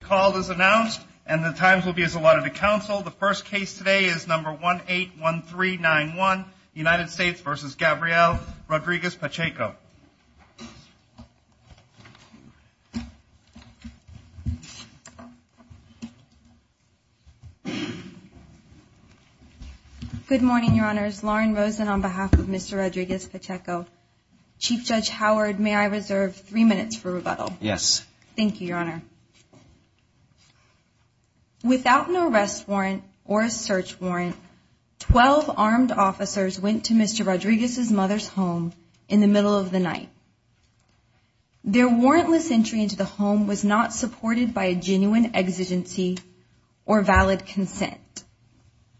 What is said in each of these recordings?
The call is announced and the times will be as allotted to counsel. The first case today is number 181391, United States v. Gabrielle Rodriguez-Pacheco. Good morning, Your Honors. Lauren Rosen on behalf of Mr. Rodriguez-Pacheco. Chief Judge Howard, may I reserve three minutes for rebuttal? Yes. Thank you, Your Honor. Without an arrest warrant or a search warrant, 12 armed officers went to Mr. Rodriguez's mother's home in the middle of the night. Their warrantless entry into the home was not supported by a genuine exigency or valid consent.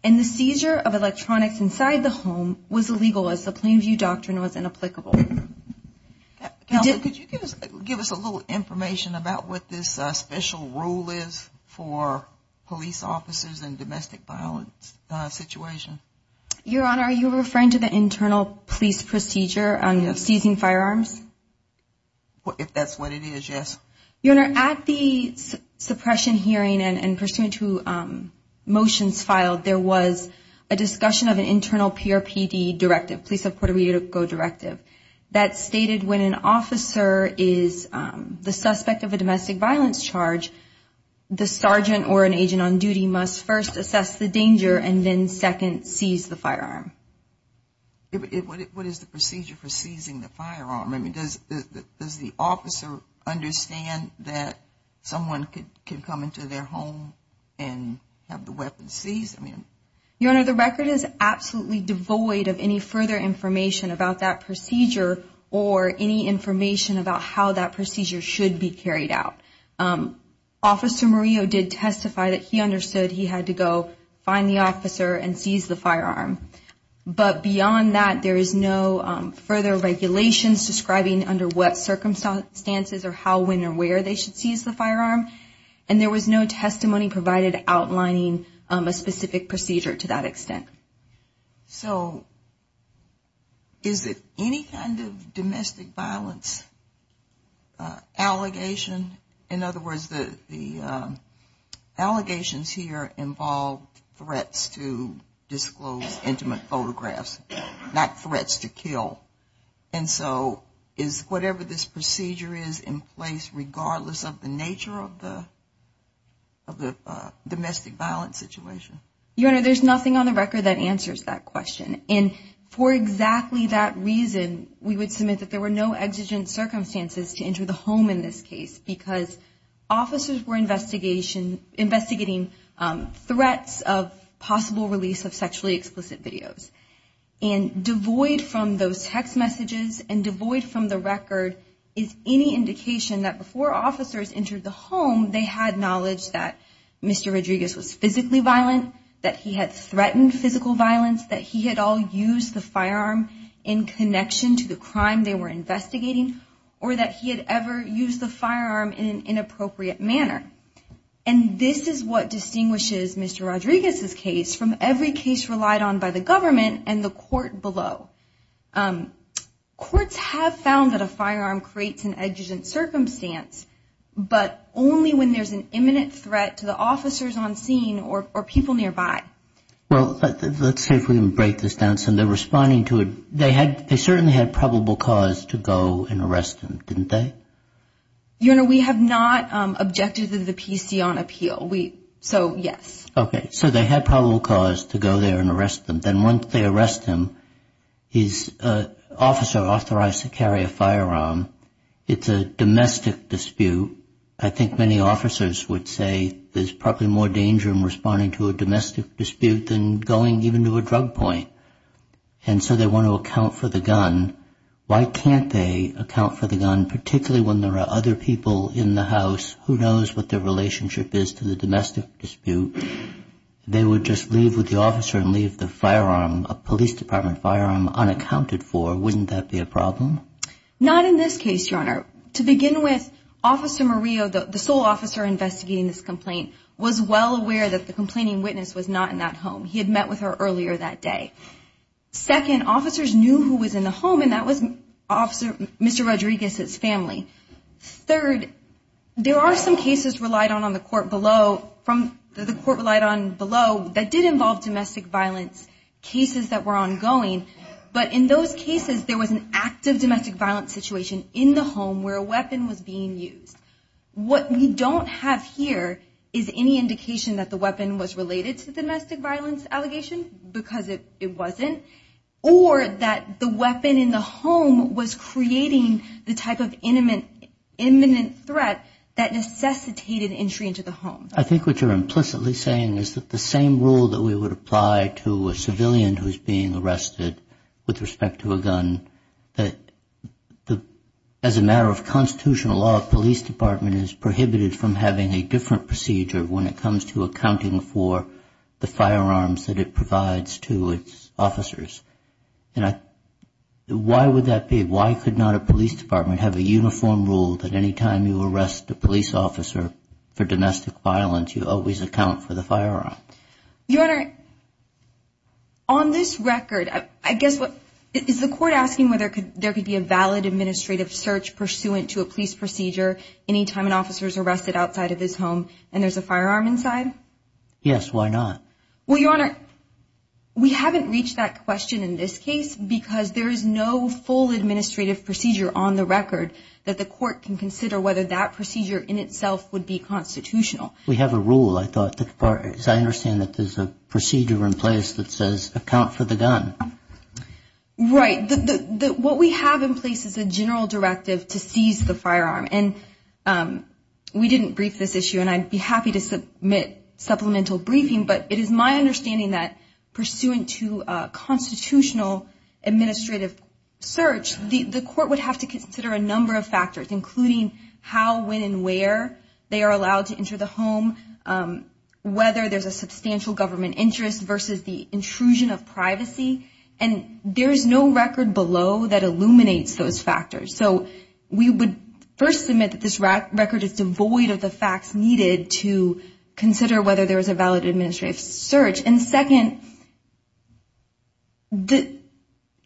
And the seizure of electronics inside the home was illegal as the Plain View Doctrine was inapplicable. Counsel, could you give us a little information about what this special rule is for police officers in domestic violence situations? Your Honor, are you referring to the internal police procedure of seizing firearms? If that's what it is, yes. Your Honor, at the suppression hearing and pursuant to motions filed, there was a discussion of an internal PRPD directive, police of Puerto Rico directive, that stated when an officer is the suspect of a domestic violence charge, the sergeant or an agent on duty must first assess the danger and then second, seize the firearm. What is the procedure for seizing the firearm? Does the officer understand that someone can come into their home and have the weapon seized? Your Honor, the record is absolutely devoid of any further information about that procedure or any information about how that procedure should be carried out. Officer Murillo did testify that he understood he had to go find the officer and seize the firearm. But beyond that, there is no further regulations describing under what circumstances or how, when, or where they should seize the firearm. And there was no testimony provided outlining a specific procedure to that extent. So is it any kind of domestic violence allegation? In other words, the allegations here involved threats to disclose intimate photographs, not threats to kill. And so is whatever this procedure is in place, regardless of the nature of the domestic violence situation? Your Honor, there's nothing on the record that answers that question. And for exactly that reason, we would submit that there were no exigent circumstances to enter the home in this case, because officers were investigating threats of possible release of sexually explicit videos. And devoid from those text messages and devoid from the record is any indication that before officers entered the home, they had knowledge that Mr. Rodriguez was physically violent, that he had threatened physical violence, that he had all used the firearm in connection to the crime they were investigating, or that he had ever used the firearm in an inappropriate manner. And this is what distinguishes Mr. Rodriguez's case from every case relied on by the government and the court below. Courts have found that a firearm creates an exigent circumstance, but only when there's an imminent threat to the officers on scene or people nearby. Well, let's see if we can break this down. So they're responding to it. They certainly had probable cause to go and arrest him, didn't they? Your Honor, we have not objected to the PC on appeal. So, yes. Okay. So they had probable cause to go there and arrest him. But then once they arrest him, his officer authorized to carry a firearm. It's a domestic dispute. I think many officers would say there's probably more danger in responding to a domestic dispute than going even to a drug point. And so they want to account for the gun. Why can't they account for the gun, particularly when there are other people in the house? Who knows what their relationship is to the domestic dispute? They would just leave with the officer and leave the firearm, a police department firearm, unaccounted for. Wouldn't that be a problem? Not in this case, Your Honor. To begin with, Officer Murillo, the sole officer investigating this complaint, was well aware that the complaining witness was not in that home. He had met with her earlier that day. Second, officers knew who was in the home, and that was Mr. Rodriguez's family. Third, there are some cases relied on on the court below that did involve domestic violence, cases that were ongoing. But in those cases, there was an active domestic violence situation in the home where a weapon was being used. What we don't have here is any indication that the weapon was related to the domestic violence allegation, because it wasn't. Or that the weapon in the home was creating the type of imminent threat that necessitated entry into the home. I think what you're implicitly saying is that the same rule that we would apply to a civilian who's being arrested with respect to a gun, that as a matter of constitutional law, a police department is prohibited from having a different procedure when it comes to accounting for the firearms that it provides to its officers. And why would that be? Why could not a police department have a uniform rule that any time you arrest a police officer for domestic violence, you always account for the firearm? Your Honor, on this record, I guess what – is the court asking whether there could be a valid administrative search pursuant to a police procedure any time an officer is arrested outside of his home and there's a firearm inside? Yes, why not? Well, Your Honor, we haven't reached that question in this case because there is no full administrative procedure on the record that the court can consider whether that procedure in itself would be constitutional. We have a rule, I thought, as far as I understand that there's a procedure in place that says account for the gun. Right. What we have in place is a general directive to seize the firearm. And we didn't brief this issue, and I'd be happy to submit supplemental briefing, but it is my understanding that pursuant to a constitutional administrative search, the court would have to consider a number of factors, including how, when, and where they are allowed to enter the home, whether there's a substantial government interest versus the intrusion of privacy. And there is no record below that illuminates those factors. So we would first submit that this record is devoid of the facts needed to consider whether there is a valid administrative search. And second,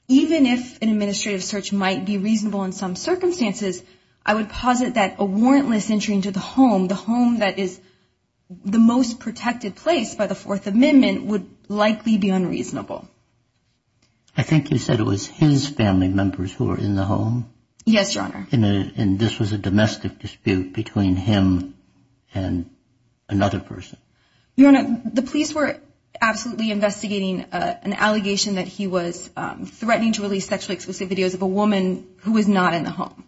even if an administrative search might be reasonable in some circumstances, I would posit that a warrantless entry into the home, the home that is the most protected place by the Fourth Amendment, would likely be unreasonable. I think you said it was his family members who were in the home? Yes, Your Honor. And this was a domestic dispute between him and another person? Your Honor, the police were absolutely investigating an allegation that he was threatening to release sexually explicit videos of a woman who was not in the home.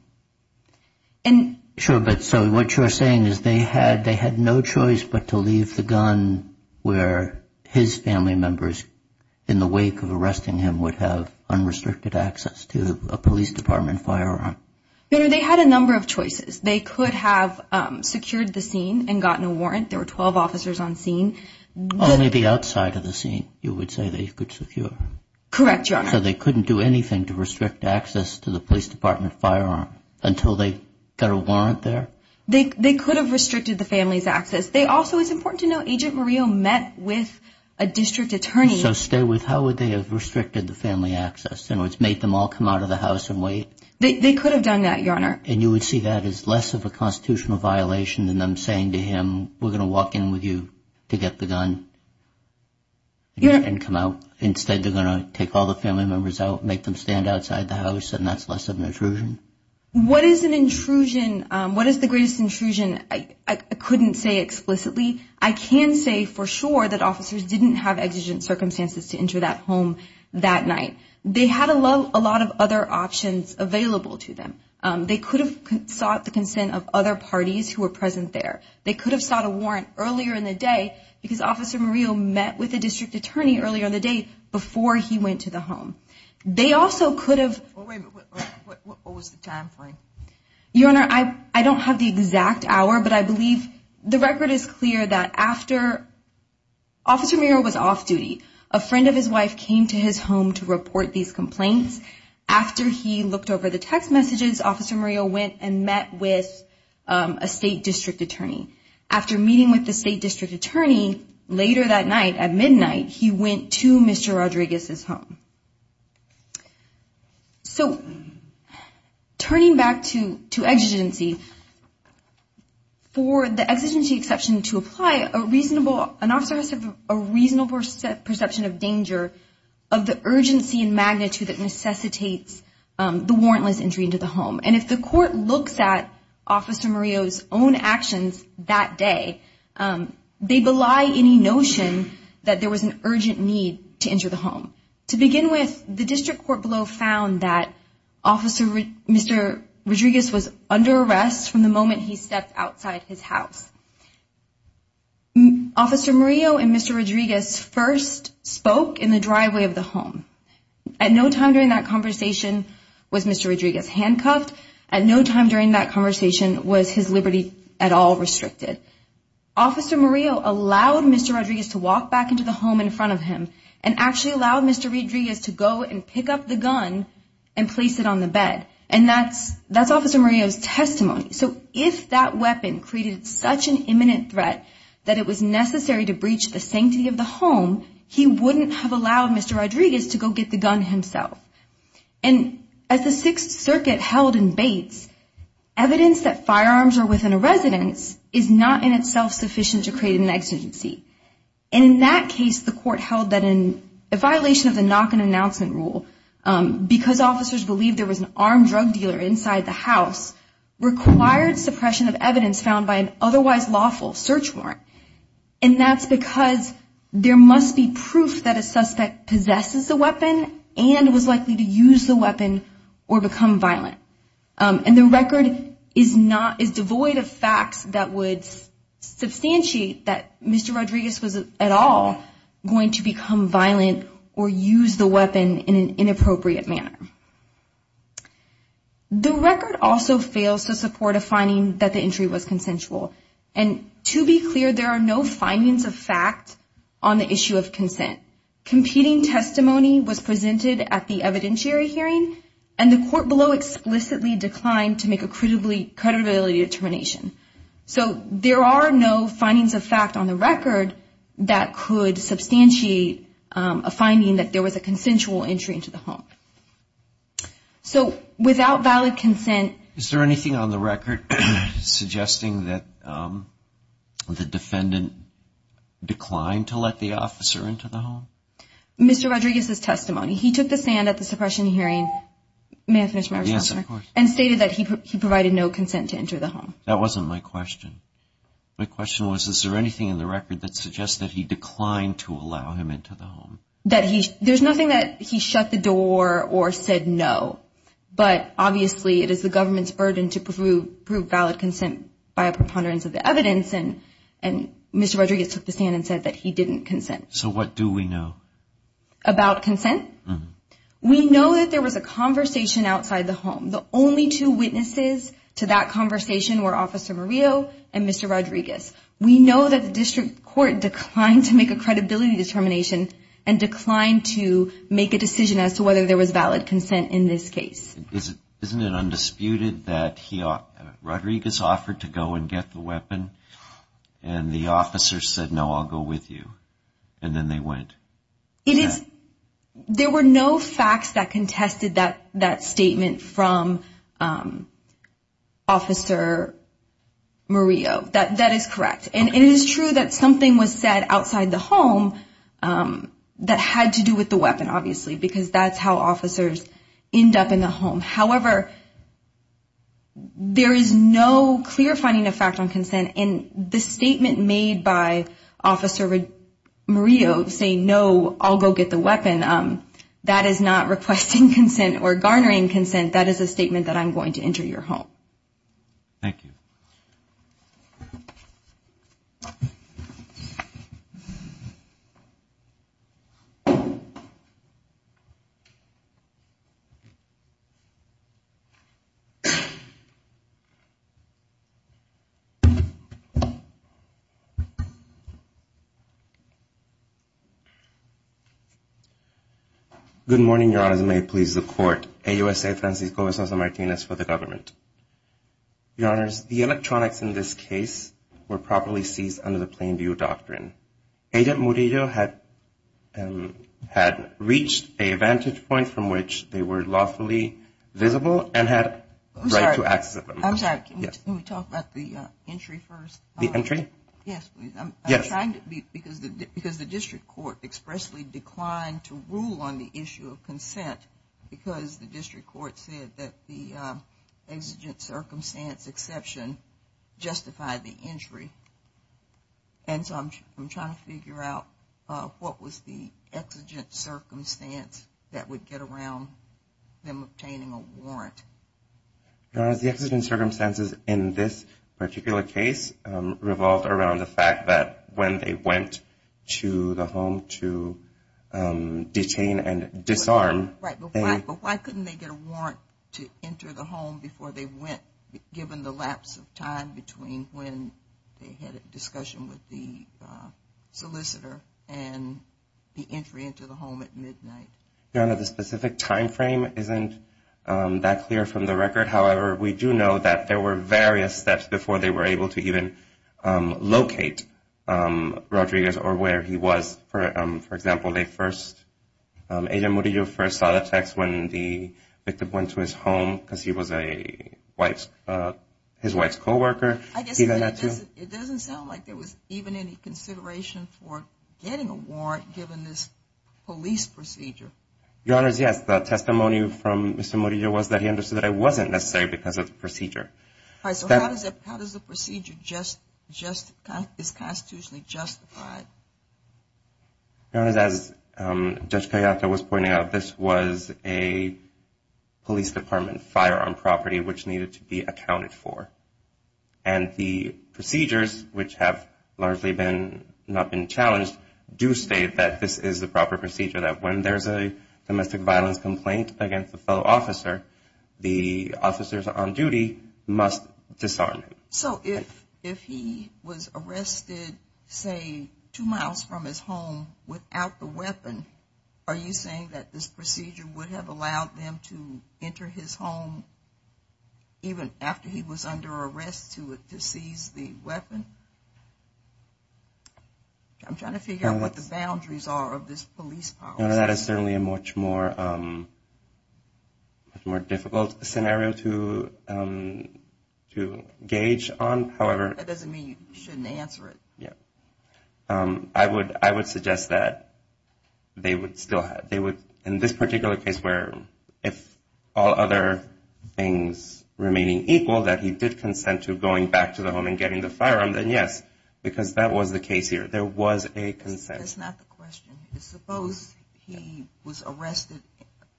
Sure, but so what you're saying is they had no choice but to leave the gun where his family members, in the wake of arresting him, would have unrestricted access to a police department firearm? No, no, they had a number of choices. They could have secured the scene and gotten a warrant. There were 12 officers on scene. Only the outside of the scene you would say they could secure? Correct, Your Honor. So they couldn't do anything to restrict access to the police department firearm until they got a warrant there? They could have restricted the family's access. They also, it's important to note, Agent Murillo met with a district attorney. So stay with, how would they have restricted the family access? In other words, made them all come out of the house and wait? They could have done that, Your Honor. And you would see that as less of a constitutional violation than them saying to him, we're going to walk in with you to get the gun and come out. Instead, they're going to take all the family members out, make them stand outside the house, and that's less of an intrusion? What is an intrusion? What is the greatest intrusion? I couldn't say explicitly. I can say for sure that officers didn't have exigent circumstances to enter that home that night. They had a lot of other options available to them. They could have sought the consent of other parties who were present there. They could have sought a warrant earlier in the day because Officer Murillo met with a district attorney earlier in the day before he went to the home. They also could have. Wait, what was the time frame? Your Honor, I don't have the exact hour, but I believe the record is clear that after Officer Murillo was off duty, a friend of his wife came to his home to report these complaints. After he looked over the text messages, Officer Murillo went and met with a state district attorney. After meeting with the state district attorney later that night at midnight, he went to Mr. Rodriguez's home. So turning back to exigency, for the exigency exception to apply, an officer has to have a reasonable perception of danger of the urgency and magnitude that necessitates the warrantless entry into the home. And if the court looks at Officer Murillo's own actions that day, they belie any notion that there was an urgent need to enter the home. To begin with, the district court below found that Mr. Rodriguez was under arrest from the moment he stepped outside his house. Officer Murillo and Mr. Rodriguez first spoke in the driveway of the home. At no time during that conversation was Mr. Rodriguez handcuffed. At no time during that conversation was his liberty at all restricted. Officer Murillo allowed Mr. Rodriguez to walk back into the home in front of him and actually allowed Mr. Rodriguez to go and pick up the gun and place it on the bed. And that's Officer Murillo's testimony. So if that weapon created such an imminent threat that it was necessary to breach the sanctity of the home, he wouldn't have allowed Mr. Rodriguez to go get the gun himself. And as the Sixth Circuit held in Bates, evidence that firearms are within a residence is not in itself sufficient to create an exigency. And in that case, the court held that in violation of the knock-on announcement rule, because officers believed there was an armed drug dealer inside the house, required suppression of evidence found by an otherwise lawful search warrant. And that's because there must be proof that a suspect possesses a weapon and was likely to use the weapon or become violent. And the record is devoid of facts that would substantiate that Mr. Rodriguez was at all going to become violent or use the weapon in an inappropriate manner. The record also fails to support a finding that the entry was consensual. And to be clear, there are no findings of fact on the issue of consent. Competing testimony was presented at the evidentiary hearing, and the court below explicitly declined to make a credibility determination. So there are no findings of fact on the record that could substantiate a finding that there was a consensual entry into the home. So without valid consent... Is there anything on the record suggesting that the defendant declined to let the officer into the home? Mr. Rodriguez's testimony. He took the stand at the suppression hearing. May I finish my response? Yes, of course. And stated that he provided no consent to enter the home. That wasn't my question. My question was, is there anything in the record that suggests that he declined to allow him into the home? There's nothing that he shut the door or said no, but obviously it is the government's burden to prove valid consent by a preponderance of the evidence, and Mr. Rodriguez took the stand and said that he didn't consent. So what do we know? About consent? We know that there was a conversation outside the home. The only two witnesses to that conversation were Officer Murillo and Mr. Rodriguez. We know that the district court declined to make a credibility determination and declined to make a decision as to whether there was valid consent in this case. Isn't it undisputed that Rodriguez offered to go and get the weapon, and the officer said, no, I'll go with you, and then they went? There were no facts that contested that statement from Officer Murillo. That is correct. And it is true that something was said outside the home that had to do with the weapon, obviously, because that's how officers end up in the home. However, there is no clear finding of fact on consent, and the statement made by Officer Murillo saying, no, I'll go get the weapon, that is not requesting consent or garnering consent. That is a statement that I'm going to enter your home. Thank you. Good morning, Your Honors. May it please the Court, AUSA Francisco Esmeralda Martinez for the government. Your Honors, the electronics in this case were properly seized under the Plain View Doctrine. Agent Murillo had reached a vantage point from which they were lawfully visible and had the right to access them. I'm sorry, can we talk about the entry first? The entry? Yes, please. Yes. I'm trying to, because the district court expressly declined to rule on the issue of consent because the district court said that the exigent circumstance exception justified the entry. And so I'm trying to figure out what was the exigent circumstance that would get around them obtaining a warrant. Your Honors, the exigent circumstances in this particular case revolved around the fact that when they went to the home to detain and disarm. Right, but why couldn't they get a warrant to enter the home before they went, given the lapse of time between when they had a discussion with the solicitor and the entry into the home at midnight? Your Honor, the specific time frame isn't that clear from the record. However, we do know that there were various steps before they were able to even locate Rodriguez or where he was. For example, Agent Murillo first saw the text when the victim went to his home because he was his wife's co-worker. It doesn't sound like there was even any consideration for getting a warrant given this police procedure. Your Honors, yes, the testimony from Mr. Murillo was that he understood that it wasn't necessary because of the procedure. All right, so how does the procedure just, is constitutionally justified? Your Honors, as Judge Cayetano was pointing out, this was a police department firearm property which needed to be accounted for. And the procedures, which have largely not been challenged, do state that this is the proper procedure, that when there's a domestic violence complaint against a fellow officer, the officers on duty must disarm him. So if he was arrested, say, two miles from his home without the weapon, are you saying that this procedure would have allowed them to enter his home even after he was under arrest to seize the weapon? I'm trying to figure out what the boundaries are of this police power. That is certainly a much more difficult scenario to gauge on. That doesn't mean you shouldn't answer it. I would suggest that they would still, in this particular case where if all other things remaining equal, that he did consent to going back to the home and getting the firearm, then yes, because that was the case here. There was a consent. That's not the question. Suppose he was arrested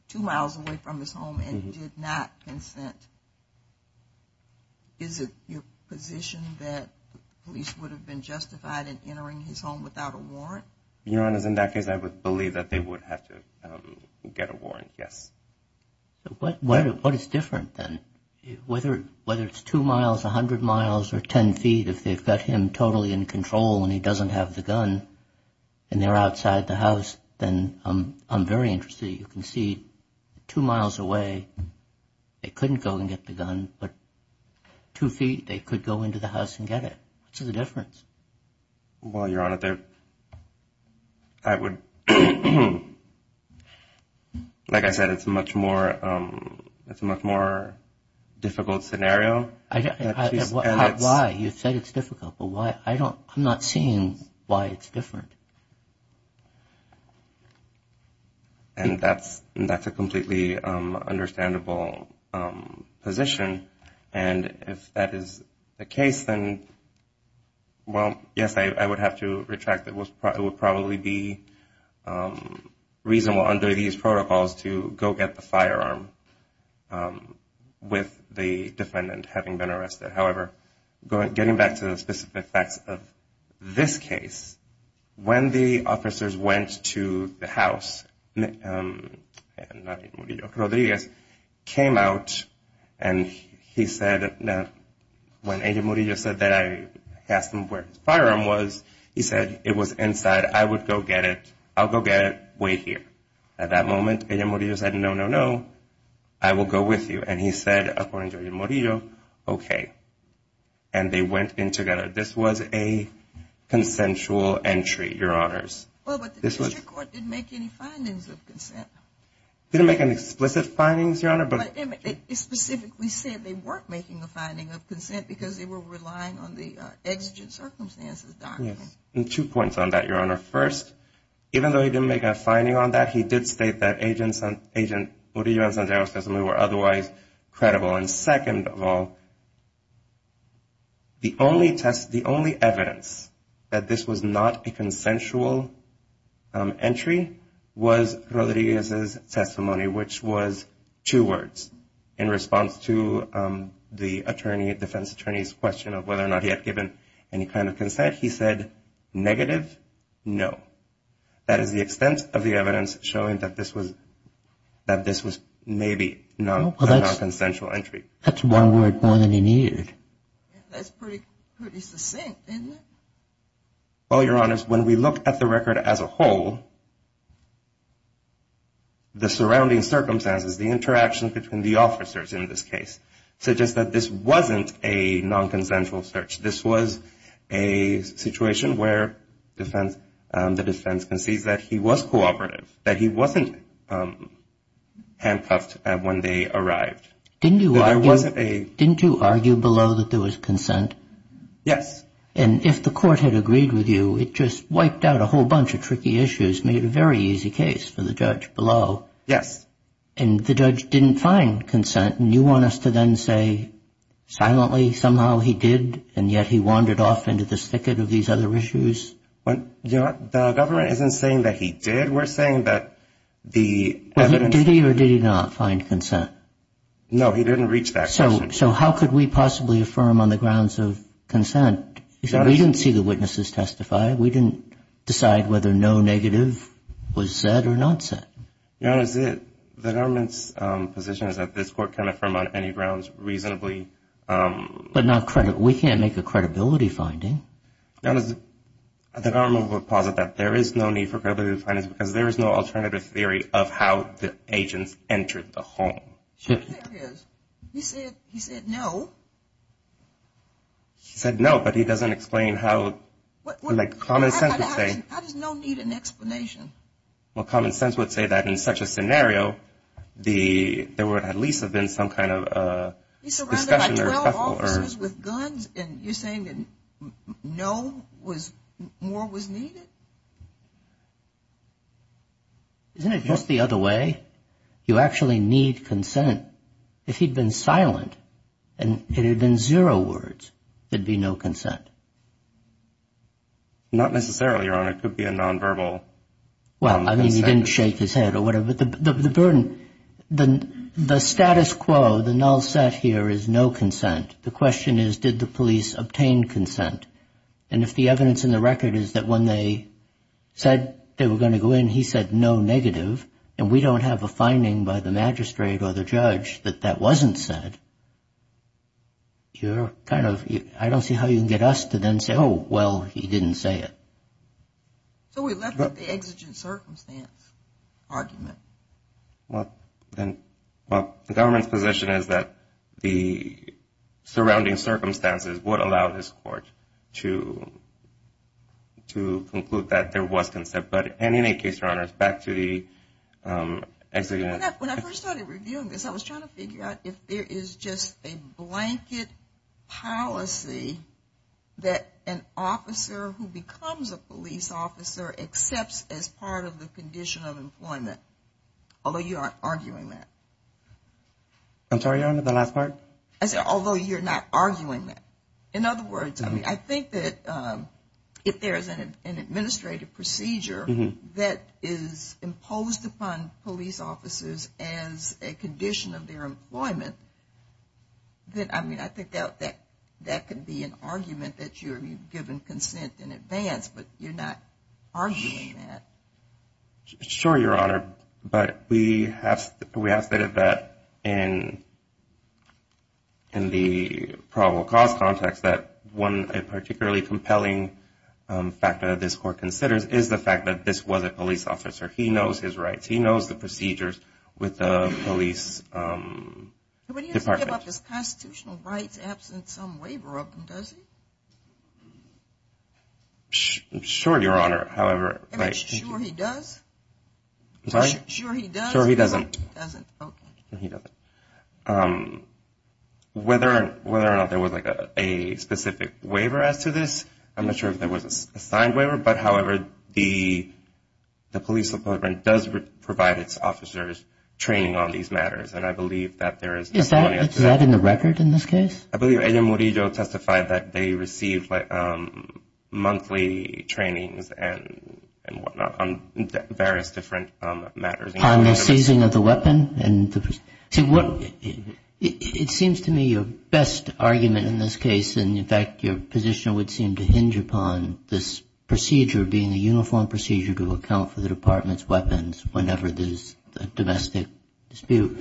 two miles away from his home and did not consent. Is it your position that police would have been justified in entering his home without a warrant? Your Honors, in that case, I would believe that they would have to get a warrant, yes. What is different then? Whether it's two miles, 100 miles, or 10 feet, if they've got him totally in control and he doesn't have the gun and they're outside the house, then I'm very interested. You can see two miles away, they couldn't go and get the gun, but two feet, they could go into the house and get it. What's the difference? Well, Your Honor, I would, like I said, it's a much more difficult scenario. Why? You said it's difficult, but I'm not seeing why it's different. And that's a completely understandable position. And if that is the case, then, well, yes, I would have to retract it. It would probably be reasonable under these protocols to go get the firearm with the defendant having been arrested. However, getting back to the specific facts of this case, when the officers went to the house, Rodriguez came out and he said, when Agent Murillo said that I asked him where his firearm was, he said it was inside. I would go get it. I'll go get it. Wait here. At that moment, Agent Murillo said, no, no, no, I will go with you. And he said, according to Agent Murillo, okay. And they went in together. This was a consensual entry, Your Honors. Well, but the district court didn't make any findings of consent. Didn't make any explicit findings, Your Honor. But it specifically said they weren't making a finding of consent because they were relying on the exigent circumstances document. Yes, and two points on that, Your Honor. First, even though he didn't make a finding on that, he did state that Agent Murillo and Sandero's testimony were otherwise credible. And second of all, the only evidence that this was not a consensual entry was Rodriguez's testimony, which was two words in response to the defense attorney's question of whether or not he had given any kind of consent. He said, negative, no. That is the extent of the evidence showing that this was maybe a non-consensual entry. That's one word more than he needed. That's pretty succinct, isn't it? Well, Your Honors, when we look at the record as a whole, the surrounding circumstances, the interaction between the officers in this case, suggest that this wasn't a non-consensual search. This was a situation where the defense concedes that he was cooperative, that he wasn't handcuffed when they arrived. Didn't you argue below that there was consent? Yes. And if the court had agreed with you, it just wiped out a whole bunch of tricky issues, made a very easy case for the judge below. Yes. And the judge didn't find consent. And you want us to then say, silently, somehow he did, and yet he wandered off into this thicket of these other issues? Well, Your Honor, the government isn't saying that he did. We're saying that the evidence — Well, did he or did he not find consent? No, he didn't reach that question. So how could we possibly affirm on the grounds of consent? We didn't see the witnesses testify. We didn't decide whether no negative was said or not said. Your Honor, the government's position is that this court can affirm on any grounds reasonably. But not credit. We can't make a credibility finding. Your Honor, the government would posit that there is no need for credibility findings because there is no alternative theory of how the agents entered the home. There is. He said no. He said no, but he doesn't explain how — How does no need an explanation? Well, common sense would say that in such a scenario, there would at least have been some kind of discussion or — He surrounded 12 officers with guns, and you're saying that no was — more was needed? Isn't it just the other way? You actually need consent. If he'd been silent and there had been zero words, there'd be no consent. Not necessarily, Your Honor. It could be a nonverbal consent. Well, I mean, he didn't shake his head or whatever. But the burden — the status quo, the null set here is no consent. The question is, did the police obtain consent? And if the evidence in the record is that when they said they were going to go in, he said no negative, and we don't have a finding by the magistrate or the judge that that wasn't said, you're kind of — I don't see how you can get us to then say, oh, well, he didn't say it. So we left it at the exigent circumstance argument. Well, the government's position is that the surrounding circumstances would allow this court to conclude that there was consent. But in any case, Your Honor, back to the exigent — When I first started reviewing this, I was trying to figure out if there is just a blanket policy that an officer who becomes a police officer accepts as part of the condition of employment, although you aren't arguing that. I'm sorry, Your Honor, the last part? I said although you're not arguing that. In other words, I mean, I think that if there is an administrative procedure that is imposed upon police officers as a condition of their employment, then, I mean, I think that could be an argument that you're giving consent in advance, but you're not arguing that. Sure, Your Honor, but we have stated that in the probable cause context that one particularly compelling factor that this court considers is the fact that this was a police officer. He knows his rights. He knows the procedures with the police department. But he doesn't give up his constitutional rights absent some waiver of them, does he? Sure, Your Honor, however — I mean, sure he does? Sorry? Sure he does? Sure he doesn't. He doesn't? Okay. He doesn't. Whether or not there was like a specific waiver as to this, I'm not sure if there was a signed waiver, but however, the police department does provide its officers training on these matters, and I believe that there is — Is that in the record in this case? I believe Ellen Murillo testified that they receive monthly trainings and whatnot on various different matters. On the seizing of the weapon? It seems to me your best argument in this case, and in fact your position would seem to hinge upon this procedure being a uniform procedure to account for the department's weapons whenever there's a domestic dispute.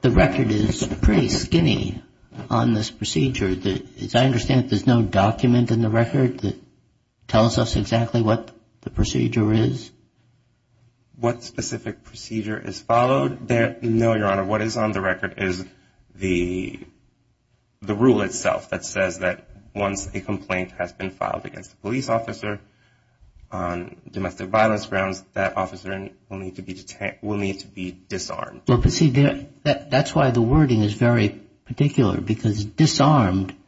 The record is pretty skinny on this procedure. As I understand it, there's no document in the record that tells us exactly what the procedure is? What specific procedure is followed? No, Your Honor. What is on the record is the rule itself that says that once a complaint has been filed against a police officer on domestic violence grounds, that officer will need to be disarmed. That's why the wording is very particular, because disarmed —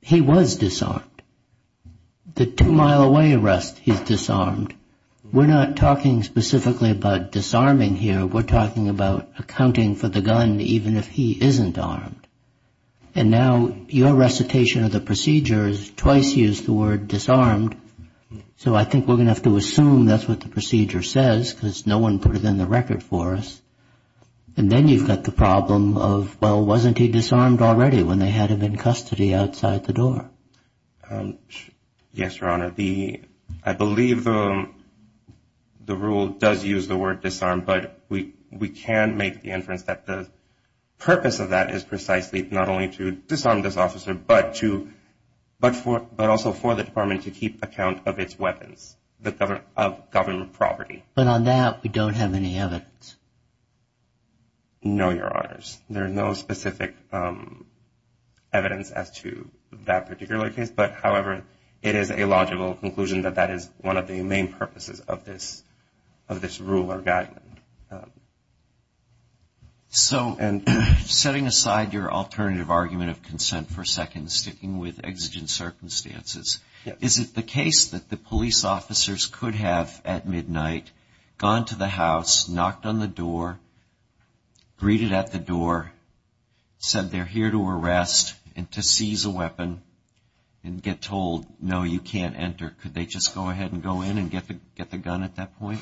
he was disarmed. The two-mile-away arrest, he's disarmed. We're not talking specifically about disarming here. We're talking about accounting for the gun even if he isn't armed. And now your recitation of the procedure has twice used the word disarmed, so I think we're going to have to assume that's what the procedure says because no one put it in the record for us. And then you've got the problem of, well, wasn't he disarmed already when they had him in custody outside the door? Yes, Your Honor. I believe the rule does use the word disarmed, but we can make the inference that the purpose of that is precisely not only to disarm this officer, but also for the department to keep account of its weapons, of government property. But on that, we don't have any evidence. No, Your Honors. There is no specific evidence as to that particular case, but, however, it is a logical conclusion that that is one of the main purposes of this rule or guideline. So setting aside your alternative argument of consent for seconds, sticking with exigent circumstances, is it the case that the police officers could have, at midnight, gone to the house, knocked on the door, greeted at the door, said they're here to arrest and to seize a weapon, and get told, no, you can't enter? Could they just go ahead and go in and get the gun at that point?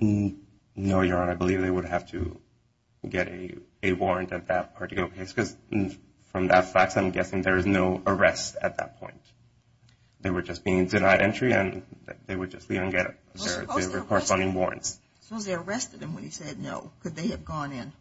No, Your Honor. I believe they would have to get a warrant at that particular place because, from that fact, I'm guessing there is no arrest at that point. They were just being denied entry and they would just leave and get their corresponding warrants. Suppose they arrested him when he said no. Could they have gone in?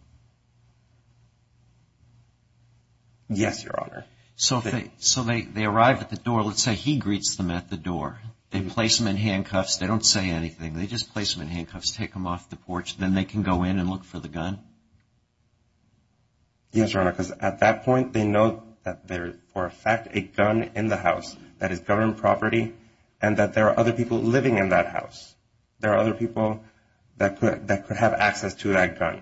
Yes, Your Honor. So they arrive at the door. Let's say he greets them at the door. They place them in handcuffs. They don't say anything. They just place them in handcuffs, take them off the porch. Then they can go in and look for the gun? Yes, Your Honor, because at that point, they know that there is, for a fact, a gun in the house that is government property and that there are other people living in that house. There are other people that could have access to that gun.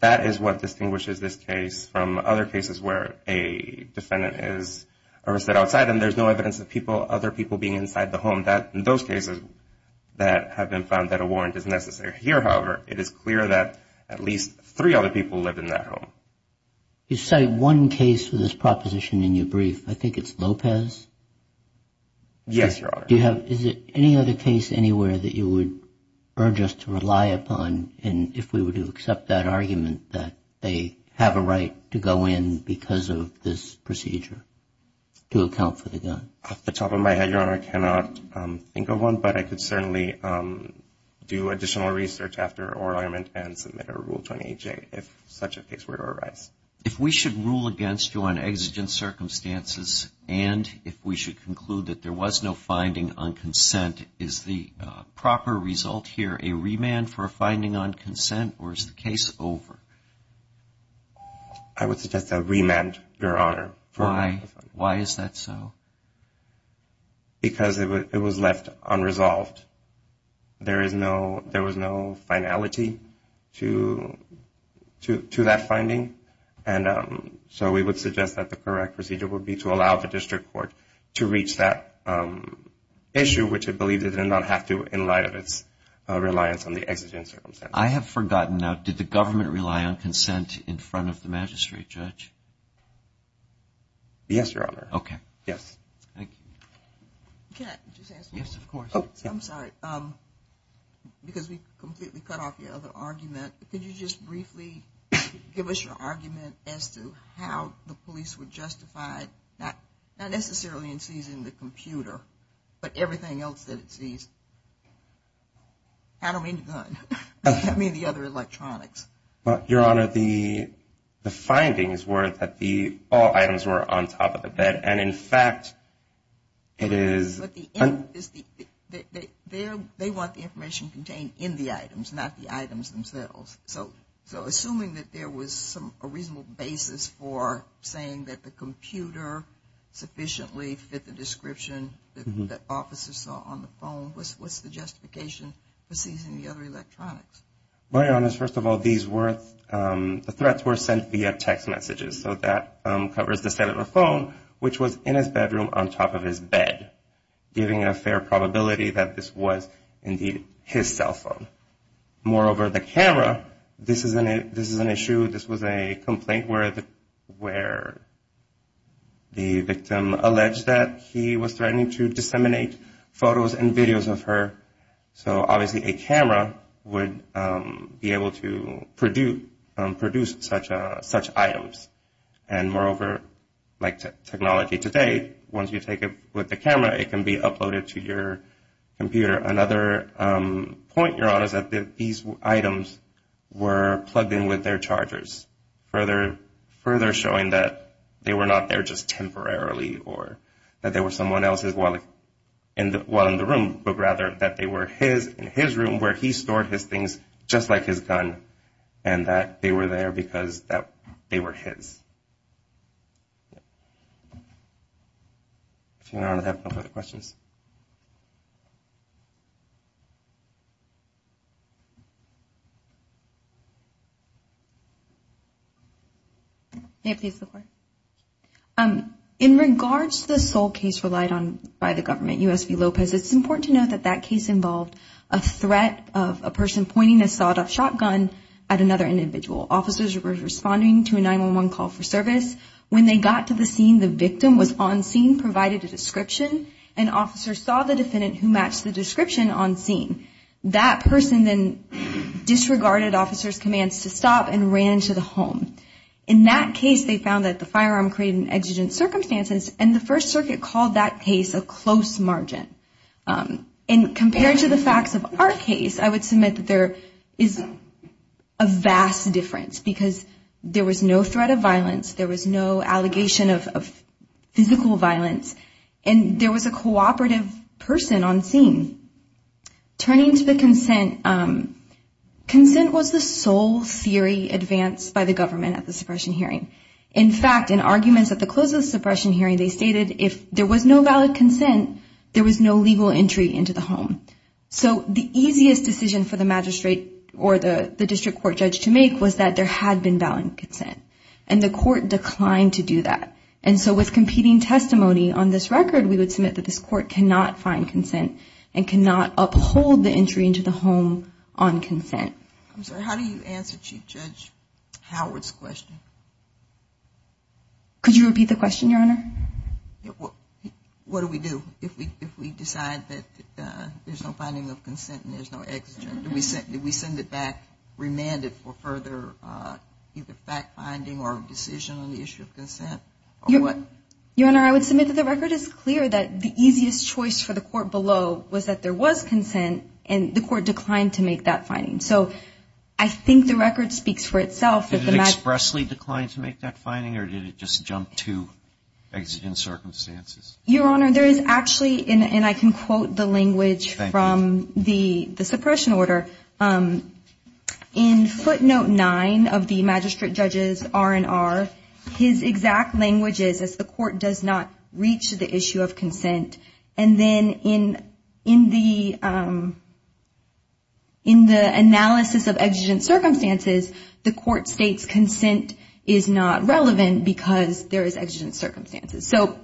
That is what distinguishes this case from other cases where a defendant is arrested outside and there's no evidence of other people being inside the home. In those cases that have been found, that a warrant is necessary. Here, however, it is clear that at least three other people lived in that home. You cite one case for this proposition in your brief. I think it's Lopez. Yes, Your Honor. Is there any other case anywhere that you would urge us to rely upon if we were to accept that argument that they have a right to go in because of this procedure to account for the gun? Off the top of my head, Your Honor, I cannot think of one, but I could certainly do additional research after our argument and submit a Rule 28J if such a case were to arise. If we should rule against you on exigent circumstances and if we should conclude that there was no finding on consent, is the proper result here a remand for a finding on consent or is the case over? I would suggest a remand, Your Honor. Why? Why is that so? Because it was left unresolved. There was no finality to that finding, and so we would suggest that the correct procedure would be to allow the district court to reach that issue, which it believed it did not have to in light of its reliance on the exigent circumstances. I have forgotten now. Did the government rely on consent in front of the magistrate judge? Yes, Your Honor. Okay. Yes. Thank you. Can I just ask one more thing? Yes, of course. I'm sorry. Because we completely cut off your other argument, could you just briefly give us your argument as to how the police were justified, not necessarily in seizing the computer, but everything else that it seized? I don't mean the gun. I mean the other electronics. Well, Your Honor, the findings were that all items were on top of the bed, and in fact it is. But they want the information contained in the items, not the items themselves. So assuming that there was a reasonable basis for saying that the computer sufficiently fit the description that officers saw on the phone, what's the justification for seizing the other electronics? Well, Your Honor, first of all, the threats were sent via text messages. So that covers the set of a phone, which was in his bedroom on top of his bed, giving a fair probability that this was indeed his cell phone. Moreover, the camera, this is an issue. This was a complaint where the victim alleged that he was threatening to disseminate photos and videos of her. So obviously a camera would be able to produce such items. And moreover, like technology today, once you take it with the camera, it can be uploaded to your computer. Another point, Your Honor, is that these items were plugged in with their chargers, further showing that they were not there just temporarily or that they were someone else's while in the room, but rather that they were his in his room where he stored his things just like his gun and that they were there because they were his. If Your Honor would have no further questions. May it please the Court. In regards to the sole case relied on by the government, U.S. v. Lopez, it's important to note that that case involved a threat of a person pointing a sawed-off shotgun at another individual. Officers were responding to a 911 call for service. When they got to the scene, the victim was on scene, provided a description, and officers saw the defendant who matched the description on scene. That person then disregarded officers' commands to stop and ran to the home. In that case, they found that the firearm created an exigent circumstance, and the First Circuit called that case a close margin. And compared to the facts of our case, I would submit that there is a vast difference because there was no threat of violence, there was no allegation of physical violence, and there was a cooperative person on scene. Turning to the consent, consent was the sole theory advanced by the government at the suppression hearing. In fact, in arguments at the close of the suppression hearing, they stated if there was no valid consent, there was no legal entry into the home. So the easiest decision for the magistrate or the district court judge to make was that there had been valid consent, and the court declined to do that. And so with competing testimony on this record, we would submit that this court cannot find consent and cannot uphold the entry into the home on consent. I'm sorry, how do you answer Chief Judge Howard's question? Could you repeat the question, Your Honor? What do we do if we decide that there's no finding of consent and there's no exigent? Do we send it back remanded for further either fact-finding or decision on the issue of consent? Your Honor, I would submit that the record is clear that the easiest choice for the court below was that there was consent, and the court declined to make that finding. So I think the record speaks for itself. Did it expressly decline to make that finding, or did it just jump to exigent circumstances? Your Honor, there is actually, and I can quote the language from the suppression order, in footnote 9 of the magistrate judge's R&R, his exact language is, as the court does not reach the issue of consent, and then in the analysis of exigent circumstances, the court states consent is not relevant because there is exigent circumstances. So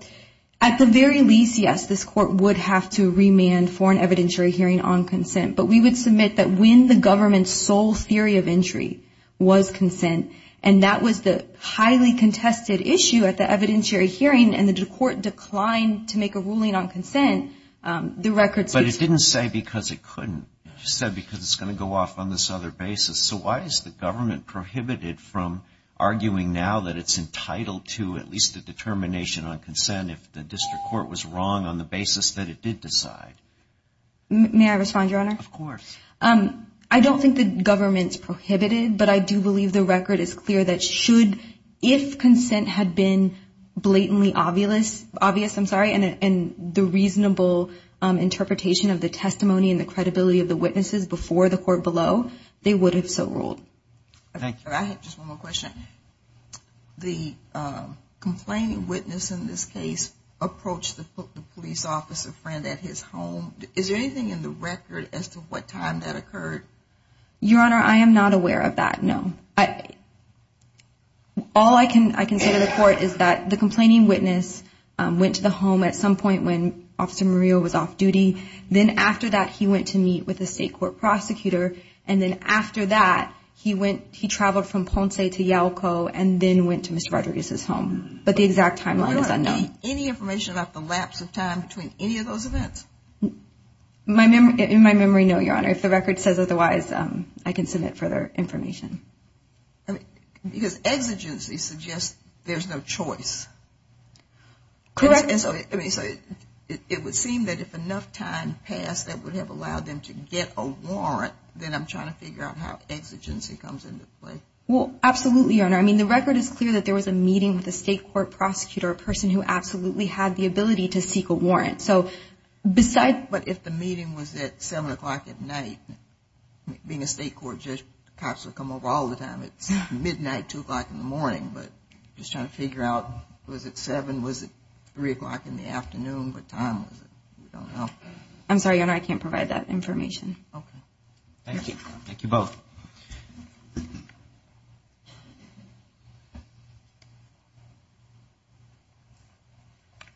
at the very least, yes, this court would have to remand for an evidentiary hearing on consent, but we would submit that when the government's sole theory of injury was consent, and that was the highly contested issue at the evidentiary hearing, and the court declined to make a ruling on consent, the record speaks for itself. But it didn't say because it couldn't. It said because it's going to go off on this other basis. So why is the government prohibited from arguing now that it's entitled to at least a determination on consent if the district court was wrong on the basis that it did decide? May I respond, Your Honor? Of course. I don't think the government's prohibited, but I do believe the record is clear that should, if consent had been blatantly obvious, I'm sorry, and the reasonable interpretation of the testimony and the credibility of the witnesses before the court below, they would have so ruled. Thank you. I have just one more question. The complaining witness in this case approached the police officer friend at his home. Is there anything in the record as to what time that occurred? Your Honor, I am not aware of that, no. All I can say to the court is that the complaining witness went to the home at some point when Officer Murillo was off duty. Then after that, he went to meet with the state court prosecutor, and then after that, he traveled from Ponce to Yalco and then went to Mr. Rodriguez's home. But the exact timeline is unknown. Your Honor, any information about the lapse of time between any of those events? In my memory, no, Your Honor. If the record says otherwise, I can submit further information. Because exigency suggests there's no choice. Correct. It would seem that if enough time passed that would have allowed them to get a warrant, then I'm trying to figure out how exigency comes into play. Well, absolutely, Your Honor. I mean, the record is clear that there was a meeting with a state court prosecutor, a person who absolutely had the ability to seek a warrant. But if the meeting was at 7 o'clock at night, being a state court judge, cops would come over all the time. It's midnight, 2 o'clock in the morning. But I'm just trying to figure out, was it 7, was it 3 o'clock in the afternoon, what time was it? I don't know. I'm sorry, Your Honor, I can't provide that information. Okay. Thank you. Thank you both.